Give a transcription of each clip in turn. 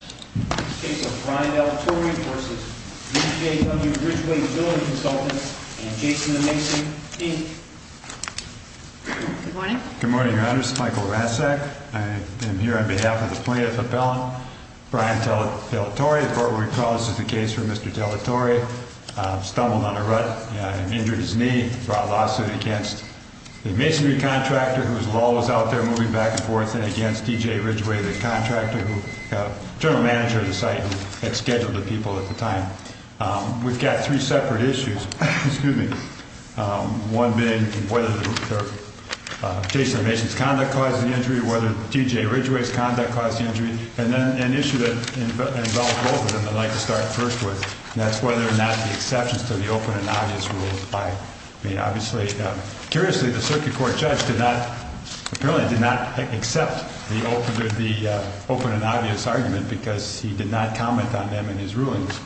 The case of Brian DeLatorre v. DJW-Ridgeway Building Consultants and Jason DeMason, Inc. Good morning. Good morning, Your Honor. This is Michael Rasek. I am here on behalf of the plaintiff appellant, Brian DeLatorre. The part where we call this is the case where Mr. DeLatorre stumbled on a rut and injured his knee. He brought a lawsuit against the masonry contractor whose law was out there moving back and forth and against DJW-Ridgeway, the general manager of the site who had scheduled the people at the time. We've got three separate issues. One being whether Jason DeMason's conduct caused the injury, whether DJW-Ridgeway's conduct caused the injury, and then an issue that involves both of them that I'd like to start first with, and that's whether or not the exceptions to the open and obvious rules apply. Curiously, the circuit court judge apparently did not accept the open and obvious argument because he did not comment on them in his rulings.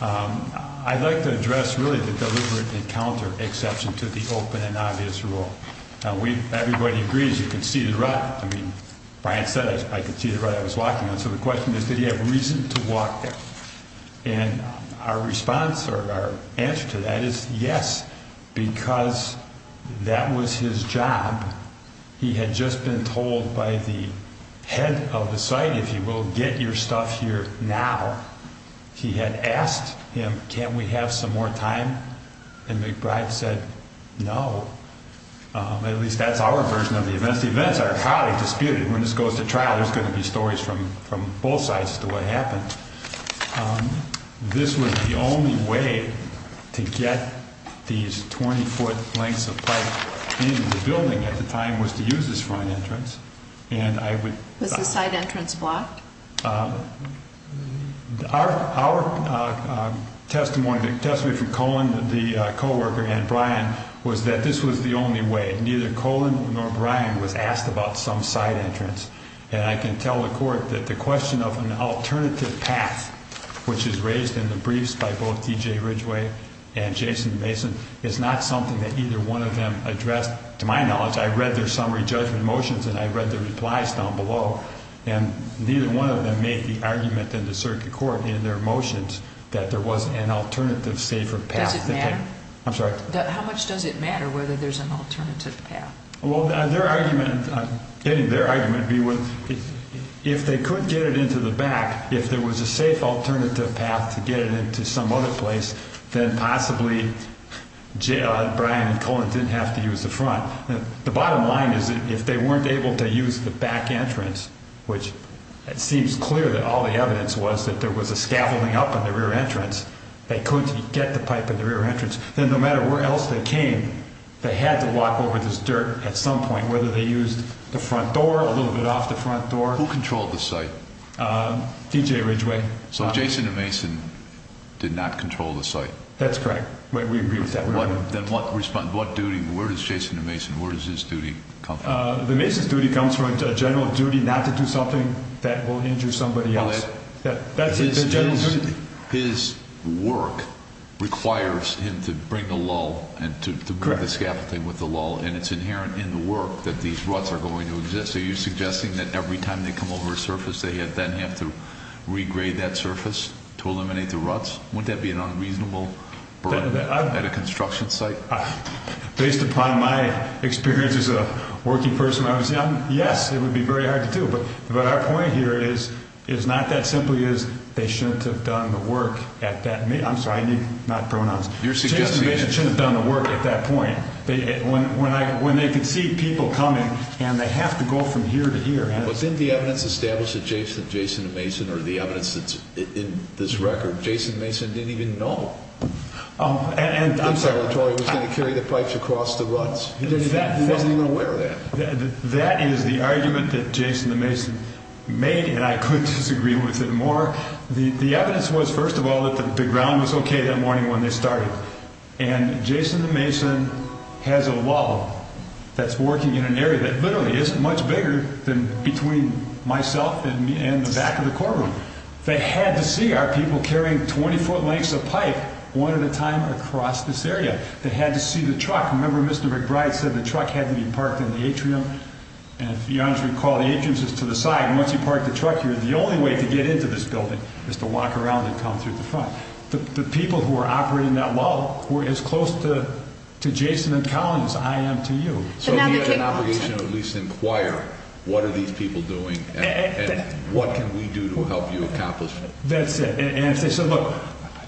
I'd like to address really the deliberate encounter exception to the open and obvious rule. Everybody agrees you can see the rut. Brian said I could see the rut I was walking on, so the question is did he have reason to walk there? And our response or our answer to that is yes, because that was his job. He had just been told by the head of the site, if you will, get your stuff here now. He had asked him, can't we have some more time? And McBride said no. At least that's our version of the events. The events are highly disputed. When this goes to trial, there's going to be stories from both sides as to what happened. This was the only way to get these 20-foot lengths of pipe in the building at the time was to use this front entrance. Was the side entrance blocked? Our testimony from Colin, the co-worker, and Brian was that this was the only way. Neither Colin nor Brian was asked about some side entrance. And I can tell the court that the question of an alternative path, which is raised in the briefs by both T.J. Ridgeway and Jason Mason, is not something that either one of them addressed. To my knowledge, I read their summary judgment motions and I read their replies down below, and neither one of them made the argument in the circuit court in their motions that there was an alternative safer path. Does it matter? I'm sorry? How much does it matter whether there's an alternative path? Their argument would be if they could get it into the back, if there was a safe alternative path to get it into some other place, then possibly Brian and Colin didn't have to use the front. The bottom line is that if they weren't able to use the back entrance, which it seems clear that all the evidence was that there was a scaffolding up in the rear entrance, they could get the pipe in the rear entrance. Then no matter where else they came, they had to walk over this dirt at some point, whether they used the front door, a little bit off the front door. Who controlled the site? T.J. Ridgeway. So Jason and Mason did not control the site? That's correct. We agree with that. Then what duty, where does Jason and Mason, where does his duty come from? The Mason's duty comes from a general duty not to do something that will injure somebody else. His work requires him to bring the lull and to bring the scaffolding with the lull, and it's inherent in the work that these ruts are going to exist. Are you suggesting that every time they come over a surface, they then have to regrade that surface to eliminate the ruts? Wouldn't that be an unreasonable burden at a construction site? Based upon my experience as a working person when I was young, yes, it would be very hard to do. But our point here is not that simply is they shouldn't have done the work at that, I'm sorry, not pronouns. Jason and Mason shouldn't have done the work at that point. When they could see people coming and they have to go from here to here. But then the evidence established that Jason and Mason or the evidence that's in this record, Jason and Mason didn't even know. And I'm sorry. Secretary Torrey was going to carry the pipes across the ruts. He wasn't even aware of that. That is the argument that Jason and Mason made, and I could disagree with it more. The evidence was, first of all, that the ground was okay that morning when they started. And Jason and Mason has a lull that's working in an area that literally is much bigger than between myself and the back of the courtroom. They had to see our people carrying 20-foot lengths of pipe one at a time across this area. They had to see the truck. Remember, Mr. McBride said the truck had to be parked in the atrium. And if you honestly recall, the atrium is just to the side. And once you park the truck here, the only way to get into this building is to walk around and come through the front. The people who are operating that lull were as close to Jason and Collins as I am to you. So now they take a lot. So we have an obligation to at least inquire what are these people doing and what can we do to help you accomplish it. That's it. And if they said, look,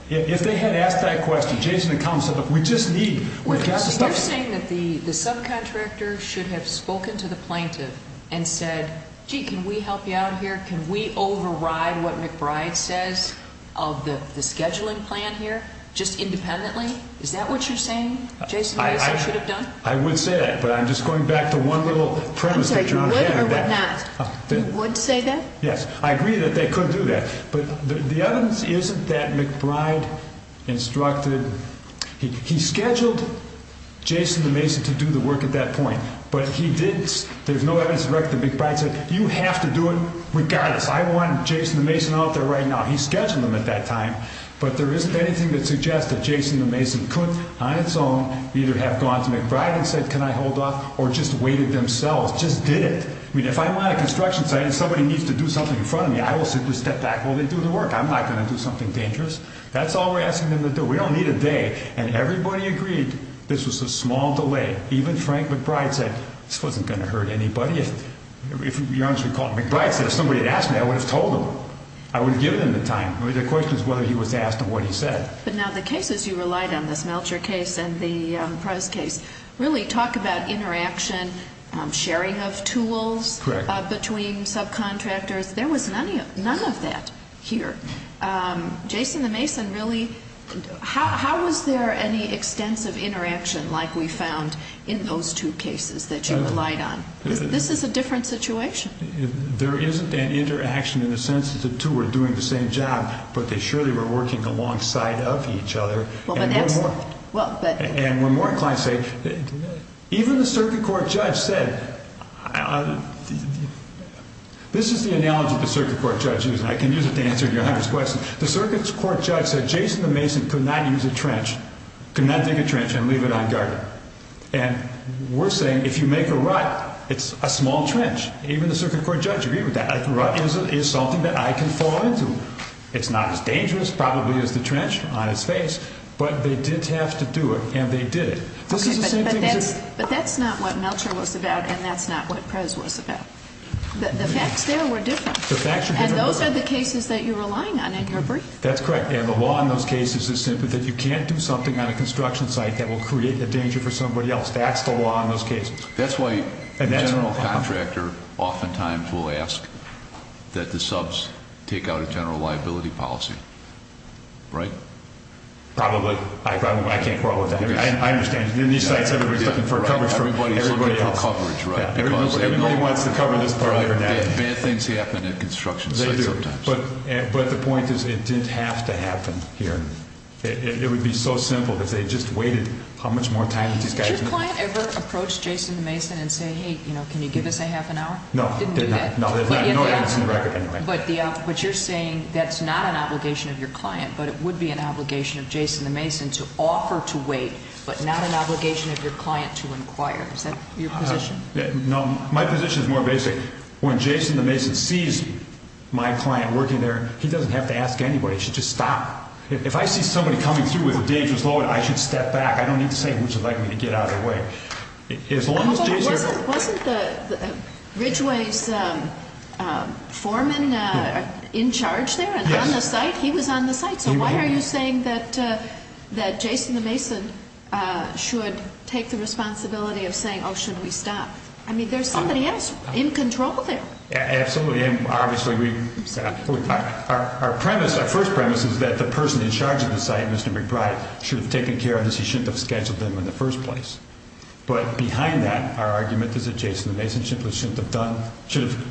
if they had asked that question, Jason and Collins said, look, we just need. You're saying that the subcontractor should have spoken to the plaintiff and said, gee, can we help you out here? Can we override what McBride says of the scheduling plan here just independently? Is that what you're saying, Jason and Mason should have done? I would say that, but I'm just going back to one little premise. I'm sorry, you would or would not? You would say that? Yes. I agree that they could do that. But the evidence isn't that McBride instructed. He scheduled Jason and Mason to do the work at that point, but he didn't. There's no evidence that McBride said, you have to do it regardless. I want Jason and Mason out there right now. He scheduled them at that time. But there isn't anything that suggests that Jason and Mason could on its own either have gone to McBride and said, can I hold off, or just waited themselves. Just did it. I mean, if I'm on a construction site and somebody needs to do something in front of me, I will simply step back while they do the work. I'm not going to do something dangerous. That's all we're asking them to do. We don't need a day. And everybody agreed this was a small delay. Even Frank McBride said, this wasn't going to hurt anybody. If, to be honest with you, McBride said, if somebody had asked me, I would have told him. I would have given him the time. The question is whether he was asked and what he said. But now the cases you relied on, this Melcher case and the Prez case, really talk about interaction, sharing of tools between subcontractors. There was none of that here. Jason and Mason really, how was there any extensive interaction like we found in those two cases that you relied on? This is a different situation. There isn't an interaction in the sense that the two were doing the same job, but they surely were working alongside of each other. And when more clients say, even the circuit court judge said, this is the analogy the circuit court judge used, and I can use it to answer your hundreds of questions. The circuit court judge said Jason and Mason could not use a trench, could not dig a trench and leave it unguarded. And we're saying if you make a rut, it's a small trench. Even the circuit court judge agreed with that. A rut is something that I can fall into. It's not as dangerous probably as the trench on its face, but they did have to do it and they did it. But that's not what Melcher was about and that's not what Prez was about. The facts there were different. And those are the cases that you're relying on in your brief. That's correct. And the law in those cases is simply that you can't do something on a construction site that will create a danger for somebody else. That's the law in those cases. That's why a general contractor oftentimes will ask that the subs take out a general liability policy. Right? Probably. I can't quarrel with that. I understand. In these sites, everybody's looking for coverage from everybody else. Everybody's looking for coverage, right? Everybody wants to cover this driver now. Bad things happen at construction sites sometimes. They do. But the point is it didn't have to happen here. It would be so simple if they just waited how much more time did these guys need? Did your client ever approach Jason the Mason and say, hey, can you give us a half an hour? No. No, there's no evidence in the record anyway. But you're saying that's not an obligation of your client but it would be an obligation of Jason the Mason to offer to wait but not an obligation of your client to inquire. Is that your position? No. My position is more basic. When Jason the Mason sees my client working there, he doesn't have to ask anybody. He should just stop. If I see somebody coming through with a dangerous load, I should step back. I don't need to say who would you like me to get out of the way. Wasn't Ridgway's foreman in charge there and on the site? He was on the site. So why are you saying that Jason the Mason should take the responsibility of saying, oh, should we stop? I mean there's somebody else in control there. Absolutely. Our premise, our first premise is that the person in charge of the site, Mr. McBride, should have taken care of this. He shouldn't have scheduled them in the first place. But behind that, our argument is that Jason the Mason simply shouldn't have done, should have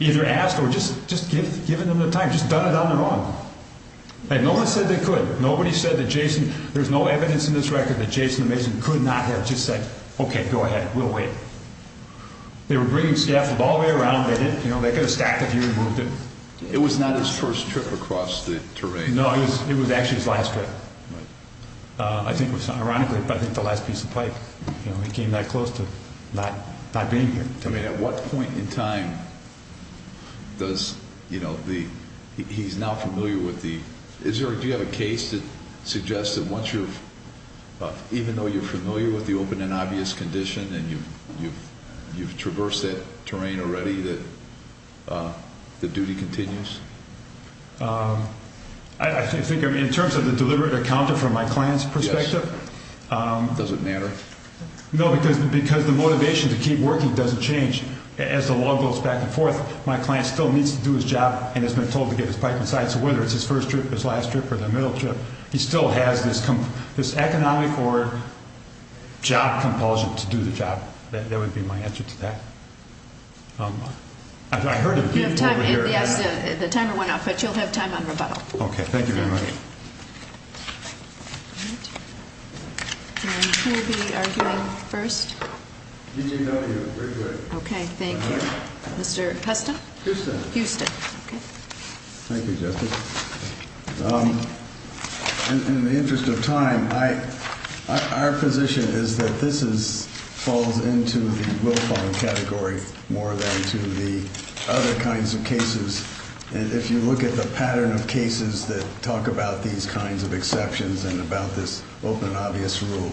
either asked or just given them the time, just done it on their own. And no one said they could. Nobody said that Jason, there's no evidence in this record that Jason the Mason could not have just said, okay, go ahead, we'll wait. They were bringing scaffold all the way around. You know, they could have stacked a few and moved it. It was not his first trip across the terrain. No, it was actually his last trip. I think it was, ironically, I think the last piece of pipe. You know, he came that close to not being here. I mean, at what point in time does, you know, he's now familiar with the, is there, do you have a case that suggests that once you're, even though you're familiar with the open and obvious condition and you've traversed that terrain already that the duty continues? I think in terms of the deliberate encounter from my client's perspective. Does it matter? No, because the motivation to keep working doesn't change. As the law goes back and forth, my client still needs to do his job and has been told to get his pipe inside. So whether it's his first trip, his last trip or the middle trip, he still has this economic or job compulsion to do the job. That would be my answer to that. I heard a few over here. Yes, the timer went off, but you'll have time on rebuttal. Okay, thank you very much. Who will be arguing first? Okay, thank you. Mr. Huston? Huston. Thank you, Justice. In the interest of time, our position is that this falls into the willful category more than to the other kinds of cases. And if you look at the pattern of cases that talk about these kinds of exceptions and about this open and obvious rule,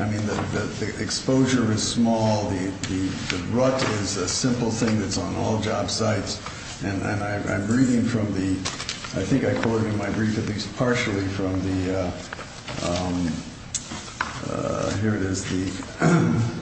I mean, the exposure is small. The rut is a simple thing that's on all job sites. And I'm reading from the – I think I quoted in my brief at least partially from the – here it is –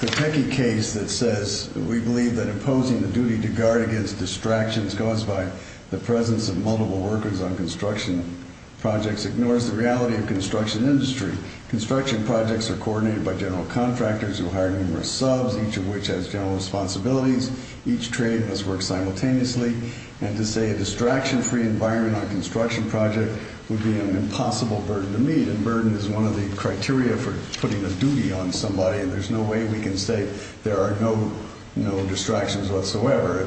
the Pateki case that says, we believe that imposing the duty to guard against distractions caused by the presence of multiple workers on construction projects ignores the reality of construction industry. Construction projects are coordinated by general contractors who hire numerous subs, each of which has general responsibilities. Each trade must work simultaneously. And to say a distraction-free environment on a construction project would be an impossible burden to meet. And burden is one of the criteria for putting a duty on somebody, and there's no way we can say there are no distractions whatsoever.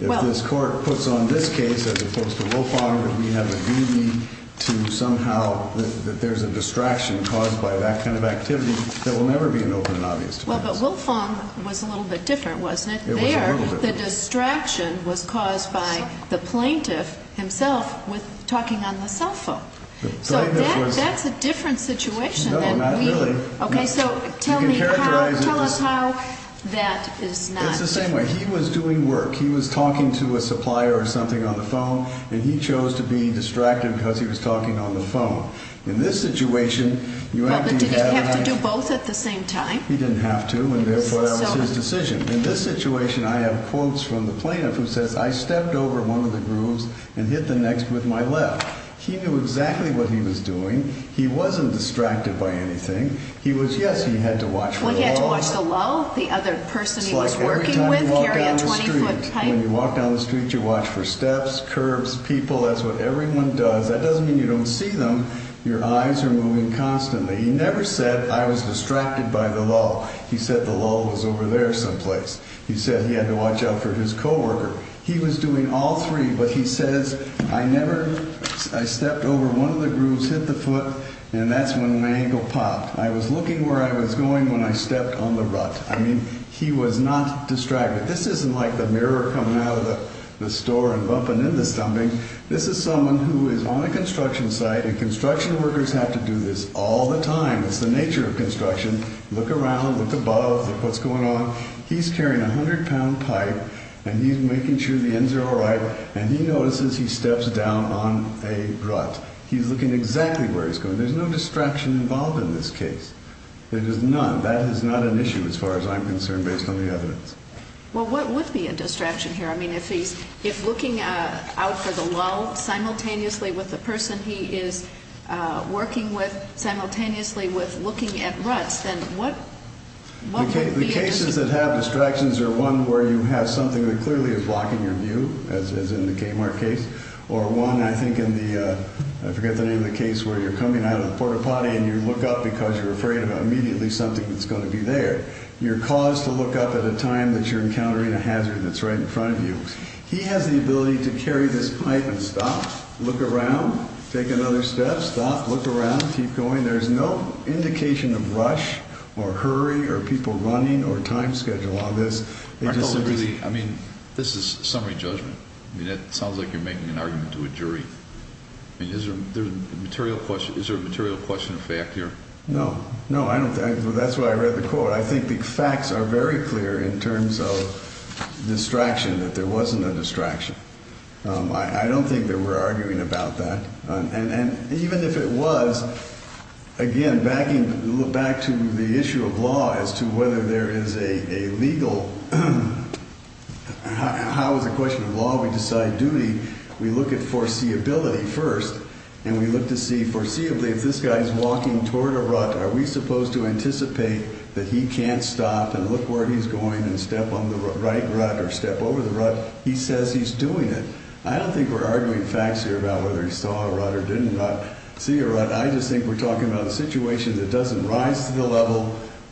If this court puts on this case, as opposed to Wolfong, that we have a duty to somehow – that there's a distraction caused by that kind of activity, that will never be an open and obvious defense. Well, but Wolfong was a little bit different, wasn't it? It was a little bit different. There, the distraction was caused by the plaintiff himself talking on the cell phone. So that's a different situation than we – No, not really. Okay, so tell me how – tell us how that is not different. It's the same way. He was doing work. He was talking to a supplier or something on the phone, and he chose to be distracted because he was talking on the phone. In this situation, you actually have – Well, but did he have to do both at the same time? He didn't have to, and therefore that was his decision. In this situation, I have quotes from the plaintiff who says, I stepped over one of the grooves and hit the next with my left. He knew exactly what he was doing. He wasn't distracted by anything. He was – yes, he had to watch for the low. It's like every time you walk down the street, when you walk down the street, you watch for steps, curbs, people. That's what everyone does. That doesn't mean you don't see them. Your eyes are moving constantly. He never said, I was distracted by the low. He said the low was over there someplace. He said he had to watch out for his coworker. He was doing all three, but he says, I never – I stepped over one of the grooves, hit the foot, and that's when my ankle popped. I was looking where I was going when I stepped on the rut. I mean, he was not distracted. This isn't like the mirror coming out of the store and bumping into something. This is someone who is on a construction site, and construction workers have to do this all the time. It's the nature of construction. Look around. Look above. Look what's going on. He's carrying a hundred-pound pipe, and he's making sure the ends are all right, and he notices he steps down on a rut. He's looking exactly where he's going. There's no distraction involved in this case. There is none. That is not an issue as far as I'm concerned based on the evidence. Well, what would be a distraction here? I mean, if he's looking out for the low simultaneously with the person he is working with simultaneously with looking at ruts, then what would be a distraction? The cases that have distractions are one where you have something that clearly is blocking your view, as in the Kmart case, or one, I forget the name of the case, where you're coming out of the port-a-potty and you look up because you're afraid of immediately something that's going to be there. You're caused to look up at a time that you're encountering a hazard that's right in front of you. He has the ability to carry this pipe and stop, look around, take another step, stop, look around, keep going. There's no indication of rush or hurry or people running or time schedule on this. I mean, this is summary judgment. It sounds like you're making an argument to a jury. Is there a material question of fact here? No. No, I don't think. That's why I read the quote. I think the facts are very clear in terms of distraction, that there wasn't a distraction. I don't think that we're arguing about that. And even if it was, again, backing back to the issue of law as to whether there is a legal, how is it a question of law? We decide duty. We look at foreseeability first, and we look to see, foreseeably, if this guy is walking toward a rut, are we supposed to anticipate that he can't stop and look where he's going and step on the right rut or step over the rut? He says he's doing it. I don't think we're arguing facts here about whether he saw a rut or did not see a rut. I just think we're talking about a situation that doesn't rise to the level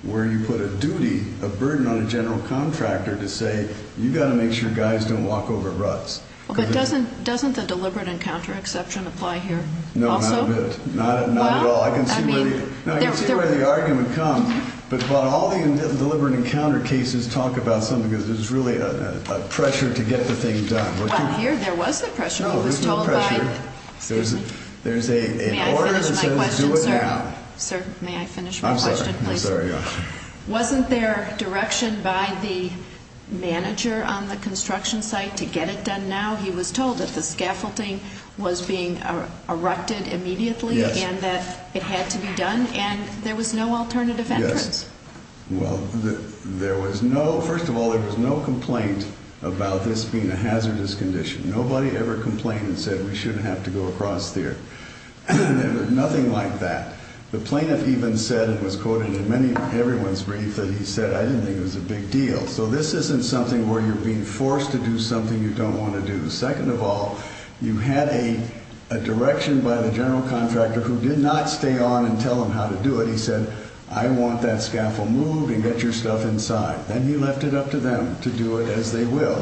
where you put a duty, a burden on a general contractor to say you've got to make sure guys don't walk over ruts. But doesn't the deliberate encounter exception apply here also? No, not a bit. Not at all. I can see where the argument comes. But all the deliberate encounter cases talk about something because there's really a pressure to get the thing done. Well, here there was a pressure. Oh, there's no pressure. There's an order that says do it now. May I finish my question, sir? Sir, may I finish my question, please? I'm sorry. Wasn't there direction by the manager on the construction site to get it done now? He was told that the scaffolding was being erected immediately and that it had to be done, and there was no alternative entrance. Well, there was no, first of all, there was no complaint about this being a hazardous condition. Nobody ever complained and said we shouldn't have to go across there. There was nothing like that. The plaintiff even said, it was quoted in many, everyone's brief, that he said I didn't think it was a big deal. So this isn't something where you're being forced to do something you don't want to do. Second of all, you had a direction by the general contractor who did not stay on and tell him how to do it. He said I want that scaffold moved and get your stuff inside. Then he left it up to them to do it as they will.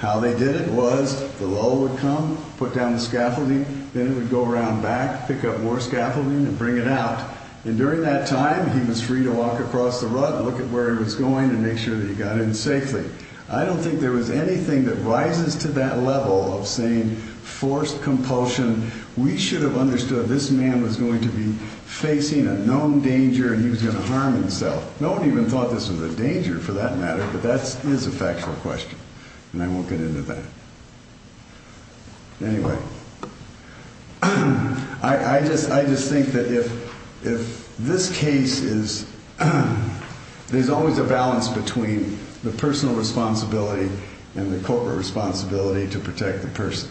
How they did it was the lull would come, put down the scaffolding, then it would go around back, pick up more scaffolding and bring it out. And during that time, he was free to walk across the rut and look at where he was going and make sure that he got in safely. I don't think there was anything that rises to that level of saying forced compulsion. We should have understood this man was going to be facing a known danger and he was going to harm himself. No one even thought this was a danger for that matter, but that is a factual question. And I won't get into that. Anyway, I just think that if this case is, there's always a balance between the personal responsibility and the corporate responsibility to protect the person.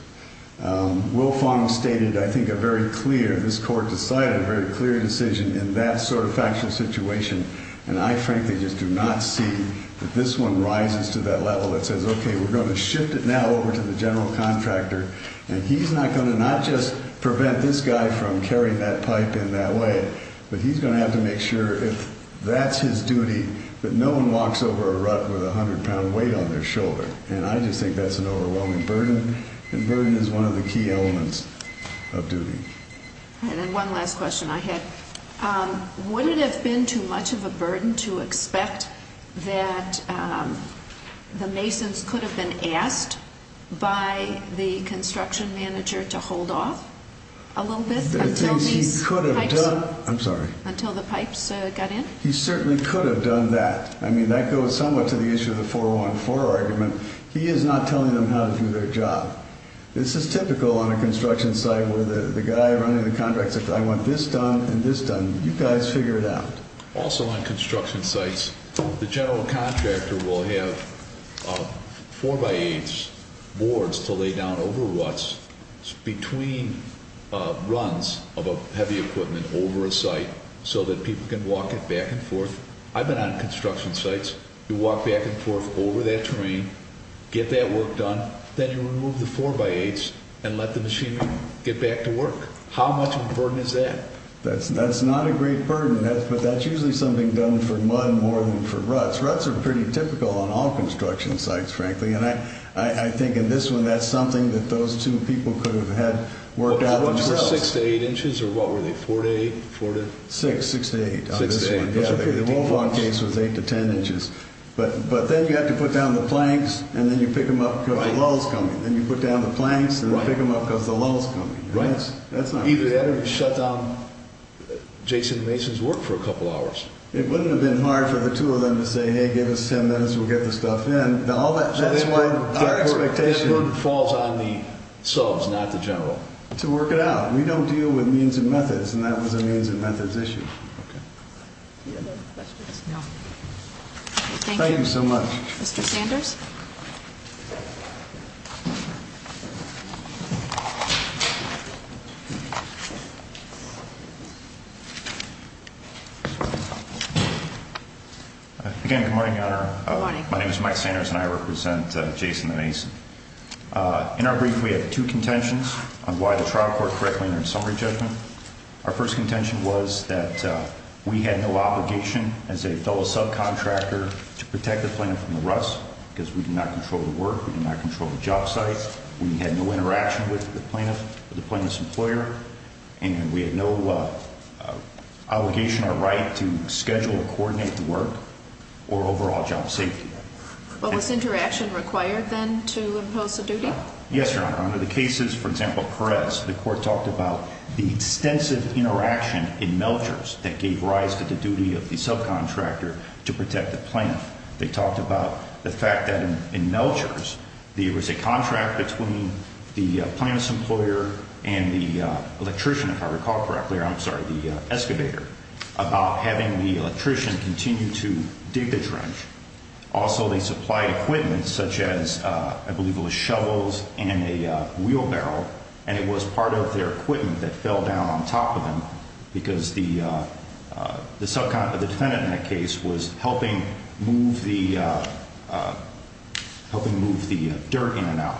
Will Fong stated, I think, a very clear, this court decided a very clear decision in that sort of factual situation. And I frankly just do not see that this one rises to that level that says, OK, we're going to shift it now over to the general contractor. And he's not going to not just prevent this guy from carrying that pipe in that way. But he's going to have to make sure if that's his duty, that no one walks over a rut with a hundred pound weight on their shoulder. And I just think that's an overwhelming burden. And burden is one of the key elements of duty. And then one last question I had. Would it have been too much of a burden to expect that the masons could have been asked by the construction manager to hold off a little bit until these pipes? I'm sorry. Until the pipes got in? He certainly could have done that. I mean, that goes somewhat to the issue of the 4-1-4 argument. He is not telling them how to do their job. This is typical on a construction site where the guy running the contract says, I want this done and this done. You guys figure it out. Also on construction sites, the general contractor will have 4-by-8s boards to lay down over ruts between runs of heavy equipment over a site so that people can walk it back and forth. I've been on construction sites. You walk back and forth over that terrain, get that work done. Then you remove the 4-by-8s and let the machinery get back to work. How much of a burden is that? That's not a great burden. But that's usually something done for mud more than for ruts. Ruts are pretty typical on all construction sites, frankly. And I think in this one that's something that those two people could have had worked out themselves. How much was 6 to 8 inches? Or what were they, 4 to 8? 6, 6 to 8 on this one. Yeah, the Wolfhawk case was 8 to 10 inches. But then you have to put down the planks and then you pick them up because the lull's coming. Then you put down the planks and then pick them up because the lull's coming. Right. That's not easy. Either that or you shut down Jason Mason's work for a couple hours. It wouldn't have been hard for the two of them to say, hey, give us 10 minutes, we'll get the stuff in. That's why our expectation. That's why the burden falls on the subs, not the general. To work it out. We don't deal with means and methods, and that was a means and methods issue. Okay. Any other questions? No. Thank you. Thank you so much. Mr. Sanders? Again, good morning, Your Honor. Good morning. My name is Mike Sanders and I represent Jason Mason. In our brief, we have two contentions on why the trial court corrected their summary judgment. Our first contention was that we had no obligation as a fellow subcontractor to protect the plaintiff from the rust, because we did not control the work, we did not control the job site. We had no interaction with the plaintiff or the plaintiff's employer, and we had no obligation or right to schedule or coordinate the work or overall job safety. Well, was interaction required then to impose a duty? Yes, Your Honor. Under the cases, for example, Perez, the court talked about the extensive interaction in Melchers that gave rise to the duty of the subcontractor to protect the plaintiff. They talked about the fact that in Melchers there was a contract between the plaintiff's employer and the electrician, if I recall correctly, or I'm sorry, the excavator, about having the electrician continue to dig the trench. Also, they supplied equipment such as, I believe it was shovels and a wheelbarrow, and it was part of their equipment that fell down on top of them because the defendant in that case was helping move the dirt in and out,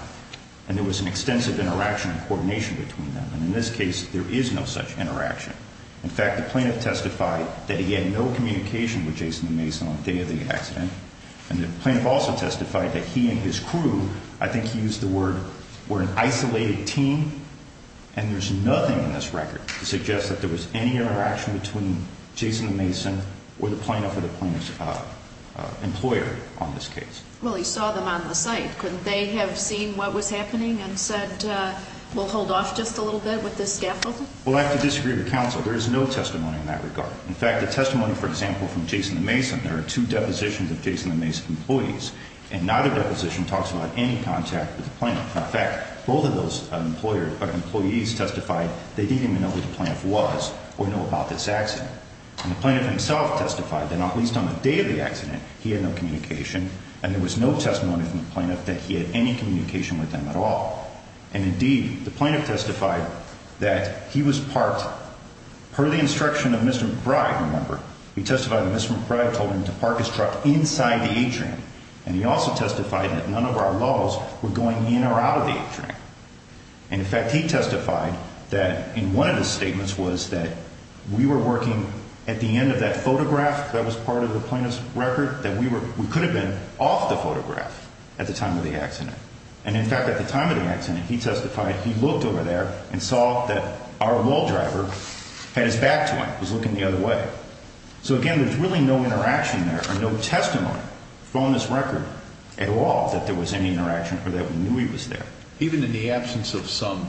and there was an extensive interaction and coordination between them. And in this case, there is no such interaction. In fact, the plaintiff testified that he had no communication with Jason Mason on the day of the accident, and the plaintiff also testified that he and his crew, I think he used the word, were an isolated team, and there's nothing in this record to suggest that there was any interaction between Jason Mason or the plaintiff or the plaintiff's employer on this case. Well, he saw them on the site. Couldn't they have seen what was happening and said, we'll hold off just a little bit with this scaffolding? Well, I have to disagree with counsel. There is no testimony in that regard. In fact, the testimony, for example, from Jason Mason, there are two depositions of Jason Mason employees, and neither deposition talks about any contact with the plaintiff. In fact, both of those employees testified they didn't even know who the plaintiff was or know about this accident. And the plaintiff himself testified that not least on the day of the accident, he had no communication, and there was no testimony from the plaintiff that he had any communication with them at all. And, indeed, the plaintiff testified that he was parked, per the instruction of Mr. McBride, remember, he testified that Mr. McBride told him to park his truck inside the atrium, and he also testified that none of our laws were going in or out of the atrium. And, in fact, he testified that in one of his statements was that we were working at the end of that photograph that was part of the plaintiff's record, that we could have been off the photograph at the time of the accident. And, in fact, at the time of the accident, he testified he looked over there and saw that our wall driver had his back to him, was looking the other way. So, again, there's really no interaction there or no testimony from this record at all that there was any interaction or that we knew he was there. Even in the absence of some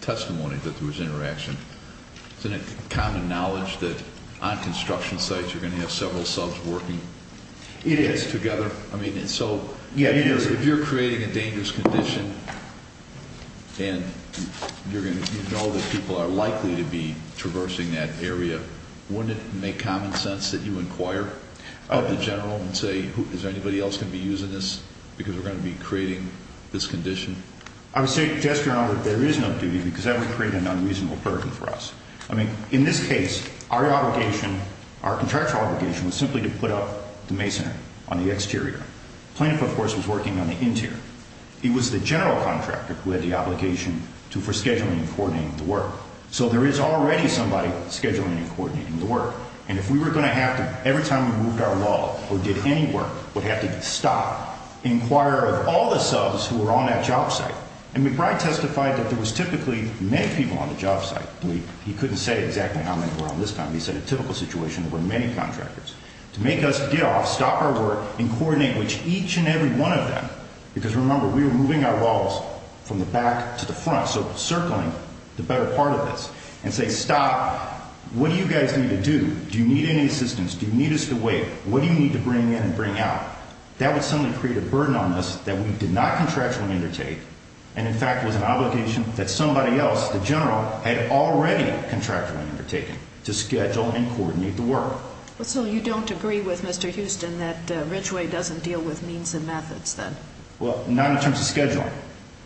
testimony that there was interaction, isn't it common knowledge that on construction sites you're going to have several subs working together? It is. I mean, so if you're creating a dangerous condition and you know that people are likely to be traversing that area, wouldn't it make common sense that you inquire with the general and say, is anybody else going to be using this because we're going to be creating this condition? I would say, Jester and I, that there is no duty because that would create an unreasonable burden for us. I mean, in this case, our obligation, our contractual obligation, was simply to put up the masonry on the exterior. Plaintiff, of course, was working on the interior. He was the general contractor who had the obligation for scheduling and coordinating the work. So there is already somebody scheduling and coordinating the work. And if we were going to have to, every time we moved our wall or did any work, would have to stop, inquire of all the subs who were on that job site. And McBride testified that there was typically many people on the job site. He couldn't say exactly how many were on this time. He said a typical situation where many contractors. To make us get off, stop our work, and coordinate each and every one of them, because remember, we were moving our walls from the back to the front, so circling the better part of this, and say, stop. What do you guys need to do? Do you need any assistance? Do you need us to wait? What do you need to bring in and bring out? That would suddenly create a burden on us that we did not contractually undertake and, in fact, was an obligation that somebody else, the general, had already contractually undertaken to schedule and coordinate the work. So you don't agree with Mr. Houston that Ridgway doesn't deal with means and methods then? Well, not in terms of scheduling.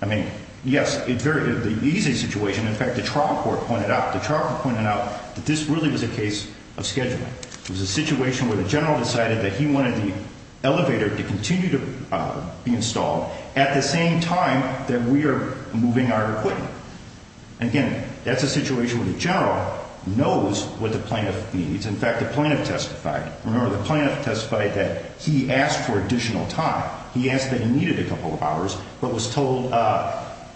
I mean, yes, it's a very easy situation. In fact, the trial court pointed out that this really was a case of scheduling. It was a situation where the general decided that he wanted the elevator to continue to be installed at the same time that we are moving our equipment. Again, that's a situation where the general knows what the plaintiff needs. In fact, the plaintiff testified. Remember, the plaintiff testified that he asked for additional time. He asked that he needed a couple of hours but was told,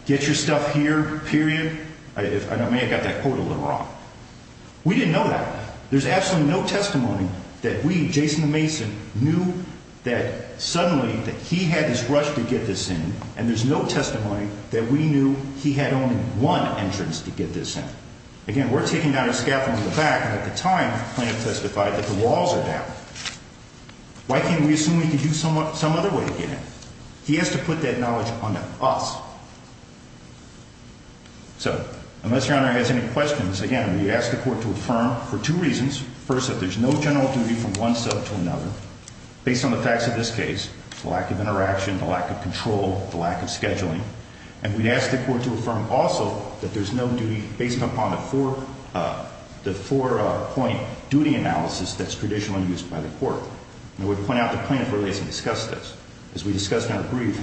get your stuff here, period. I may have got that quote a little wrong. We didn't know that. There's absolutely no testimony that we, Jason and Mason, knew that suddenly that he had this rush to get this in, and there's no testimony that we knew he had only one entrance to get this in. Again, we're taking down a scaffold in the back, and at the time the plaintiff testified that the walls are down. Why can't we assume he could do some other way to get in? He has to put that knowledge onto us. So unless Your Honor has any questions, again, we ask the court to affirm for two reasons. First, that there's no general duty from one sub to another. Based on the facts of this case, the lack of interaction, the lack of control, the lack of scheduling, and we'd ask the court to affirm also that there's no duty based upon the four-point duty analysis that's traditionally used by the court. I would point out the plaintiff really hasn't discussed this. As we discussed in our brief,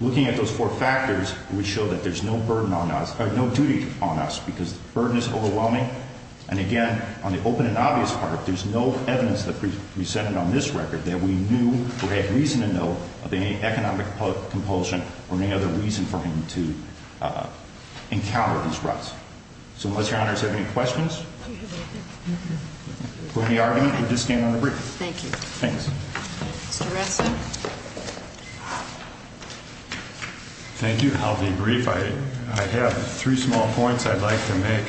looking at those four factors, we show that there's no duty on us because the burden is overwhelming, and again, on the open and obvious part, there's no evidence that we presented on this record that we knew or had reason to know of any economic compulsion or any other reason for him to encounter these ruts. So unless Your Honor has any questions, we'll end the argument. We'll just stand on the brief. Thank you. Thanks. Mr. Ressa? Thank you. I'll be brief. I have three small points I'd like to make.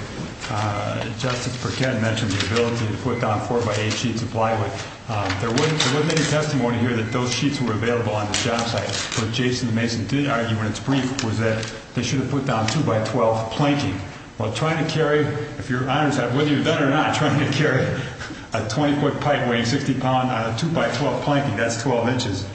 Justice Burkett mentioned the ability to put down 4-by-8 sheets of plywood. There wasn't any testimony here that those sheets were available on the job site, but Jason Mason did argue in its brief was that they should have put down 2-by-12 planking. Well, trying to carry, if Your Honor's have, whether you've done it or not, trying to carry a 20-foot pipe weighing 60 pounds on a 2-by-12 planking, that's 12 inches,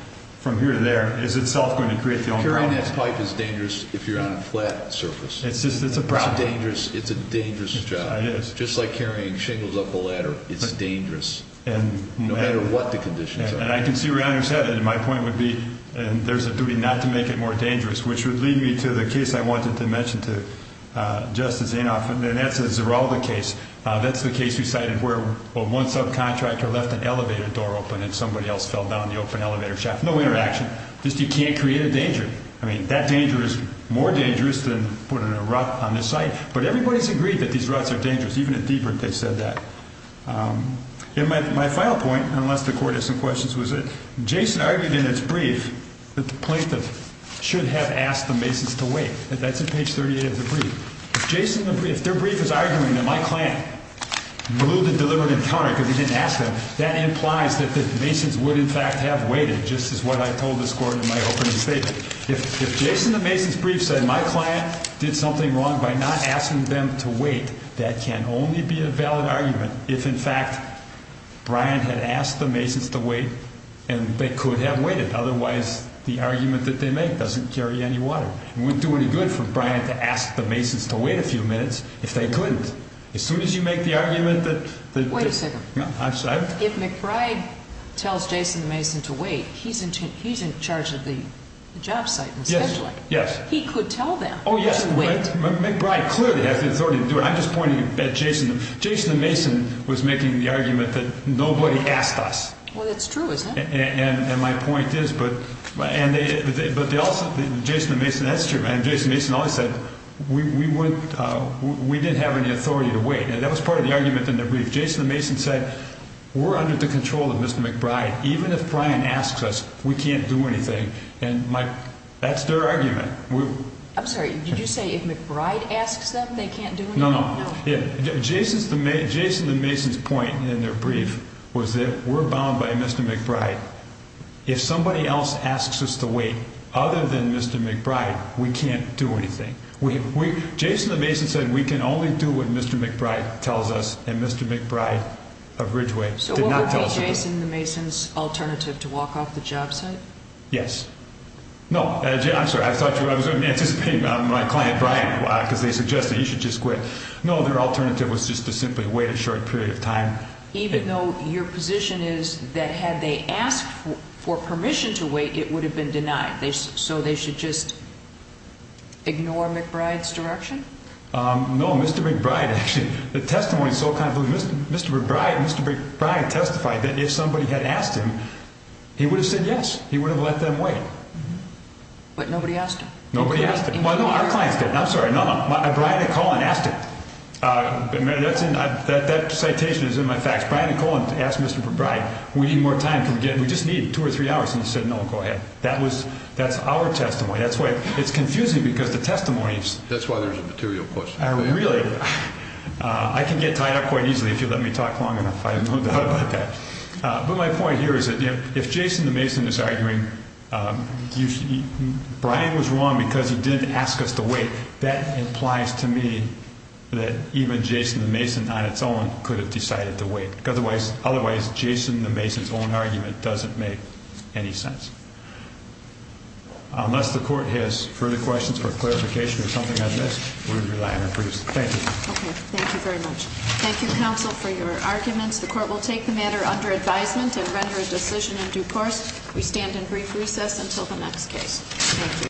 Carrying that pipe is dangerous if you're on a flat surface. It's a problem. It's a dangerous job. Just like carrying shingles up a ladder, it's dangerous, no matter what the conditions are. And I can see where Your Honor's headed. My point would be there's a duty not to make it more dangerous, which would lead me to the case I wanted to mention to Justice Inhofe, and that's the Zaralda case. That's the case you cited where one subcontractor left an elevator door open and somebody else fell down the open elevator shaft. No interaction. Just you can't create a danger. I mean, that danger is more dangerous than putting a rut on the site. But everybody's agreed that these ruts are dangerous. Even at Dieburg they said that. And my final point, unless the Court has some questions, was that Jason argued in its brief that the plaintiff should have asked the Masons to wait. That's at page 38 of the brief. If Jason, if their brief is arguing that my client blew the deliberative tonic because he didn't ask them, that implies that the Masons would in fact have waited, just as what I told this Court in my opening statement. If Jason, the Masons' brief said my client did something wrong by not asking them to wait, that can only be a valid argument if, in fact, Brian had asked the Masons to wait and they could have waited. Otherwise, the argument that they make doesn't carry any water. It wouldn't do any good for Brian to ask the Masons to wait a few minutes if they couldn't. As soon as you make the argument that the – Wait a second. If McBride tells Jason the Mason to wait, he's in charge of the job site and scheduling. Yes. He could tell them to wait. McBride clearly has the authority to do it. I'm just pointing at Jason. Jason the Mason was making the argument that nobody asked us. Well, that's true, isn't it? And my point is, but they also – Jason the Mason, that's true. Jason the Mason always said we didn't have any authority to wait. And that was part of the argument in the brief. Jason the Mason said we're under the control of Mr. McBride. Even if Brian asks us, we can't do anything. And that's their argument. I'm sorry. Did you say if McBride asks them, they can't do anything? No, no. Jason the Mason's point in their brief was that we're bound by Mr. McBride. If somebody else asks us to wait other than Mr. McBride, we can't do anything. Jason the Mason said we can only do what Mr. McBride tells us, and Mr. McBride of Ridgeway did not tell us to do. So what would be Jason the Mason's alternative, to walk off the job site? Yes. No, I'm sorry. I was anticipating my client, Brian, because they suggested you should just quit. No, their alternative was just to simply wait a short period of time. Even though your position is that had they asked for permission to wait, it would have been denied. So they should just ignore McBride's direction? No, Mr. McBride actually. The testimony is so convoluted. Mr. McBride testified that if somebody had asked him, he would have said yes. He would have let them wait. But nobody asked him. Nobody asked him. Well, no, our clients did. I'm sorry. Brian and Colin asked him. That citation is in my facts. Brian and Colin asked Mr. McBride, we need more time. Can we get in? We just need two or three hours. And he said, no, go ahead. That's our testimony. It's confusing because the testimony is. That's why there's a material question. I can get tied up quite easily if you let me talk long enough. I have no doubt about that. But my point here is that if Jason the Mason is arguing, Brian was wrong because he didn't ask us to wait, that implies to me that even Jason the Mason on its own could have decided to wait. Otherwise, Jason the Mason's own argument doesn't make any sense. Unless the court has further questions or clarification or something like this, we're relying on Bruce. Thank you. Okay. Thank you very much. Thank you, counsel, for your arguments. The court will take the matter under advisement and render a decision in due course. We stand in brief recess until the next case. Thank you.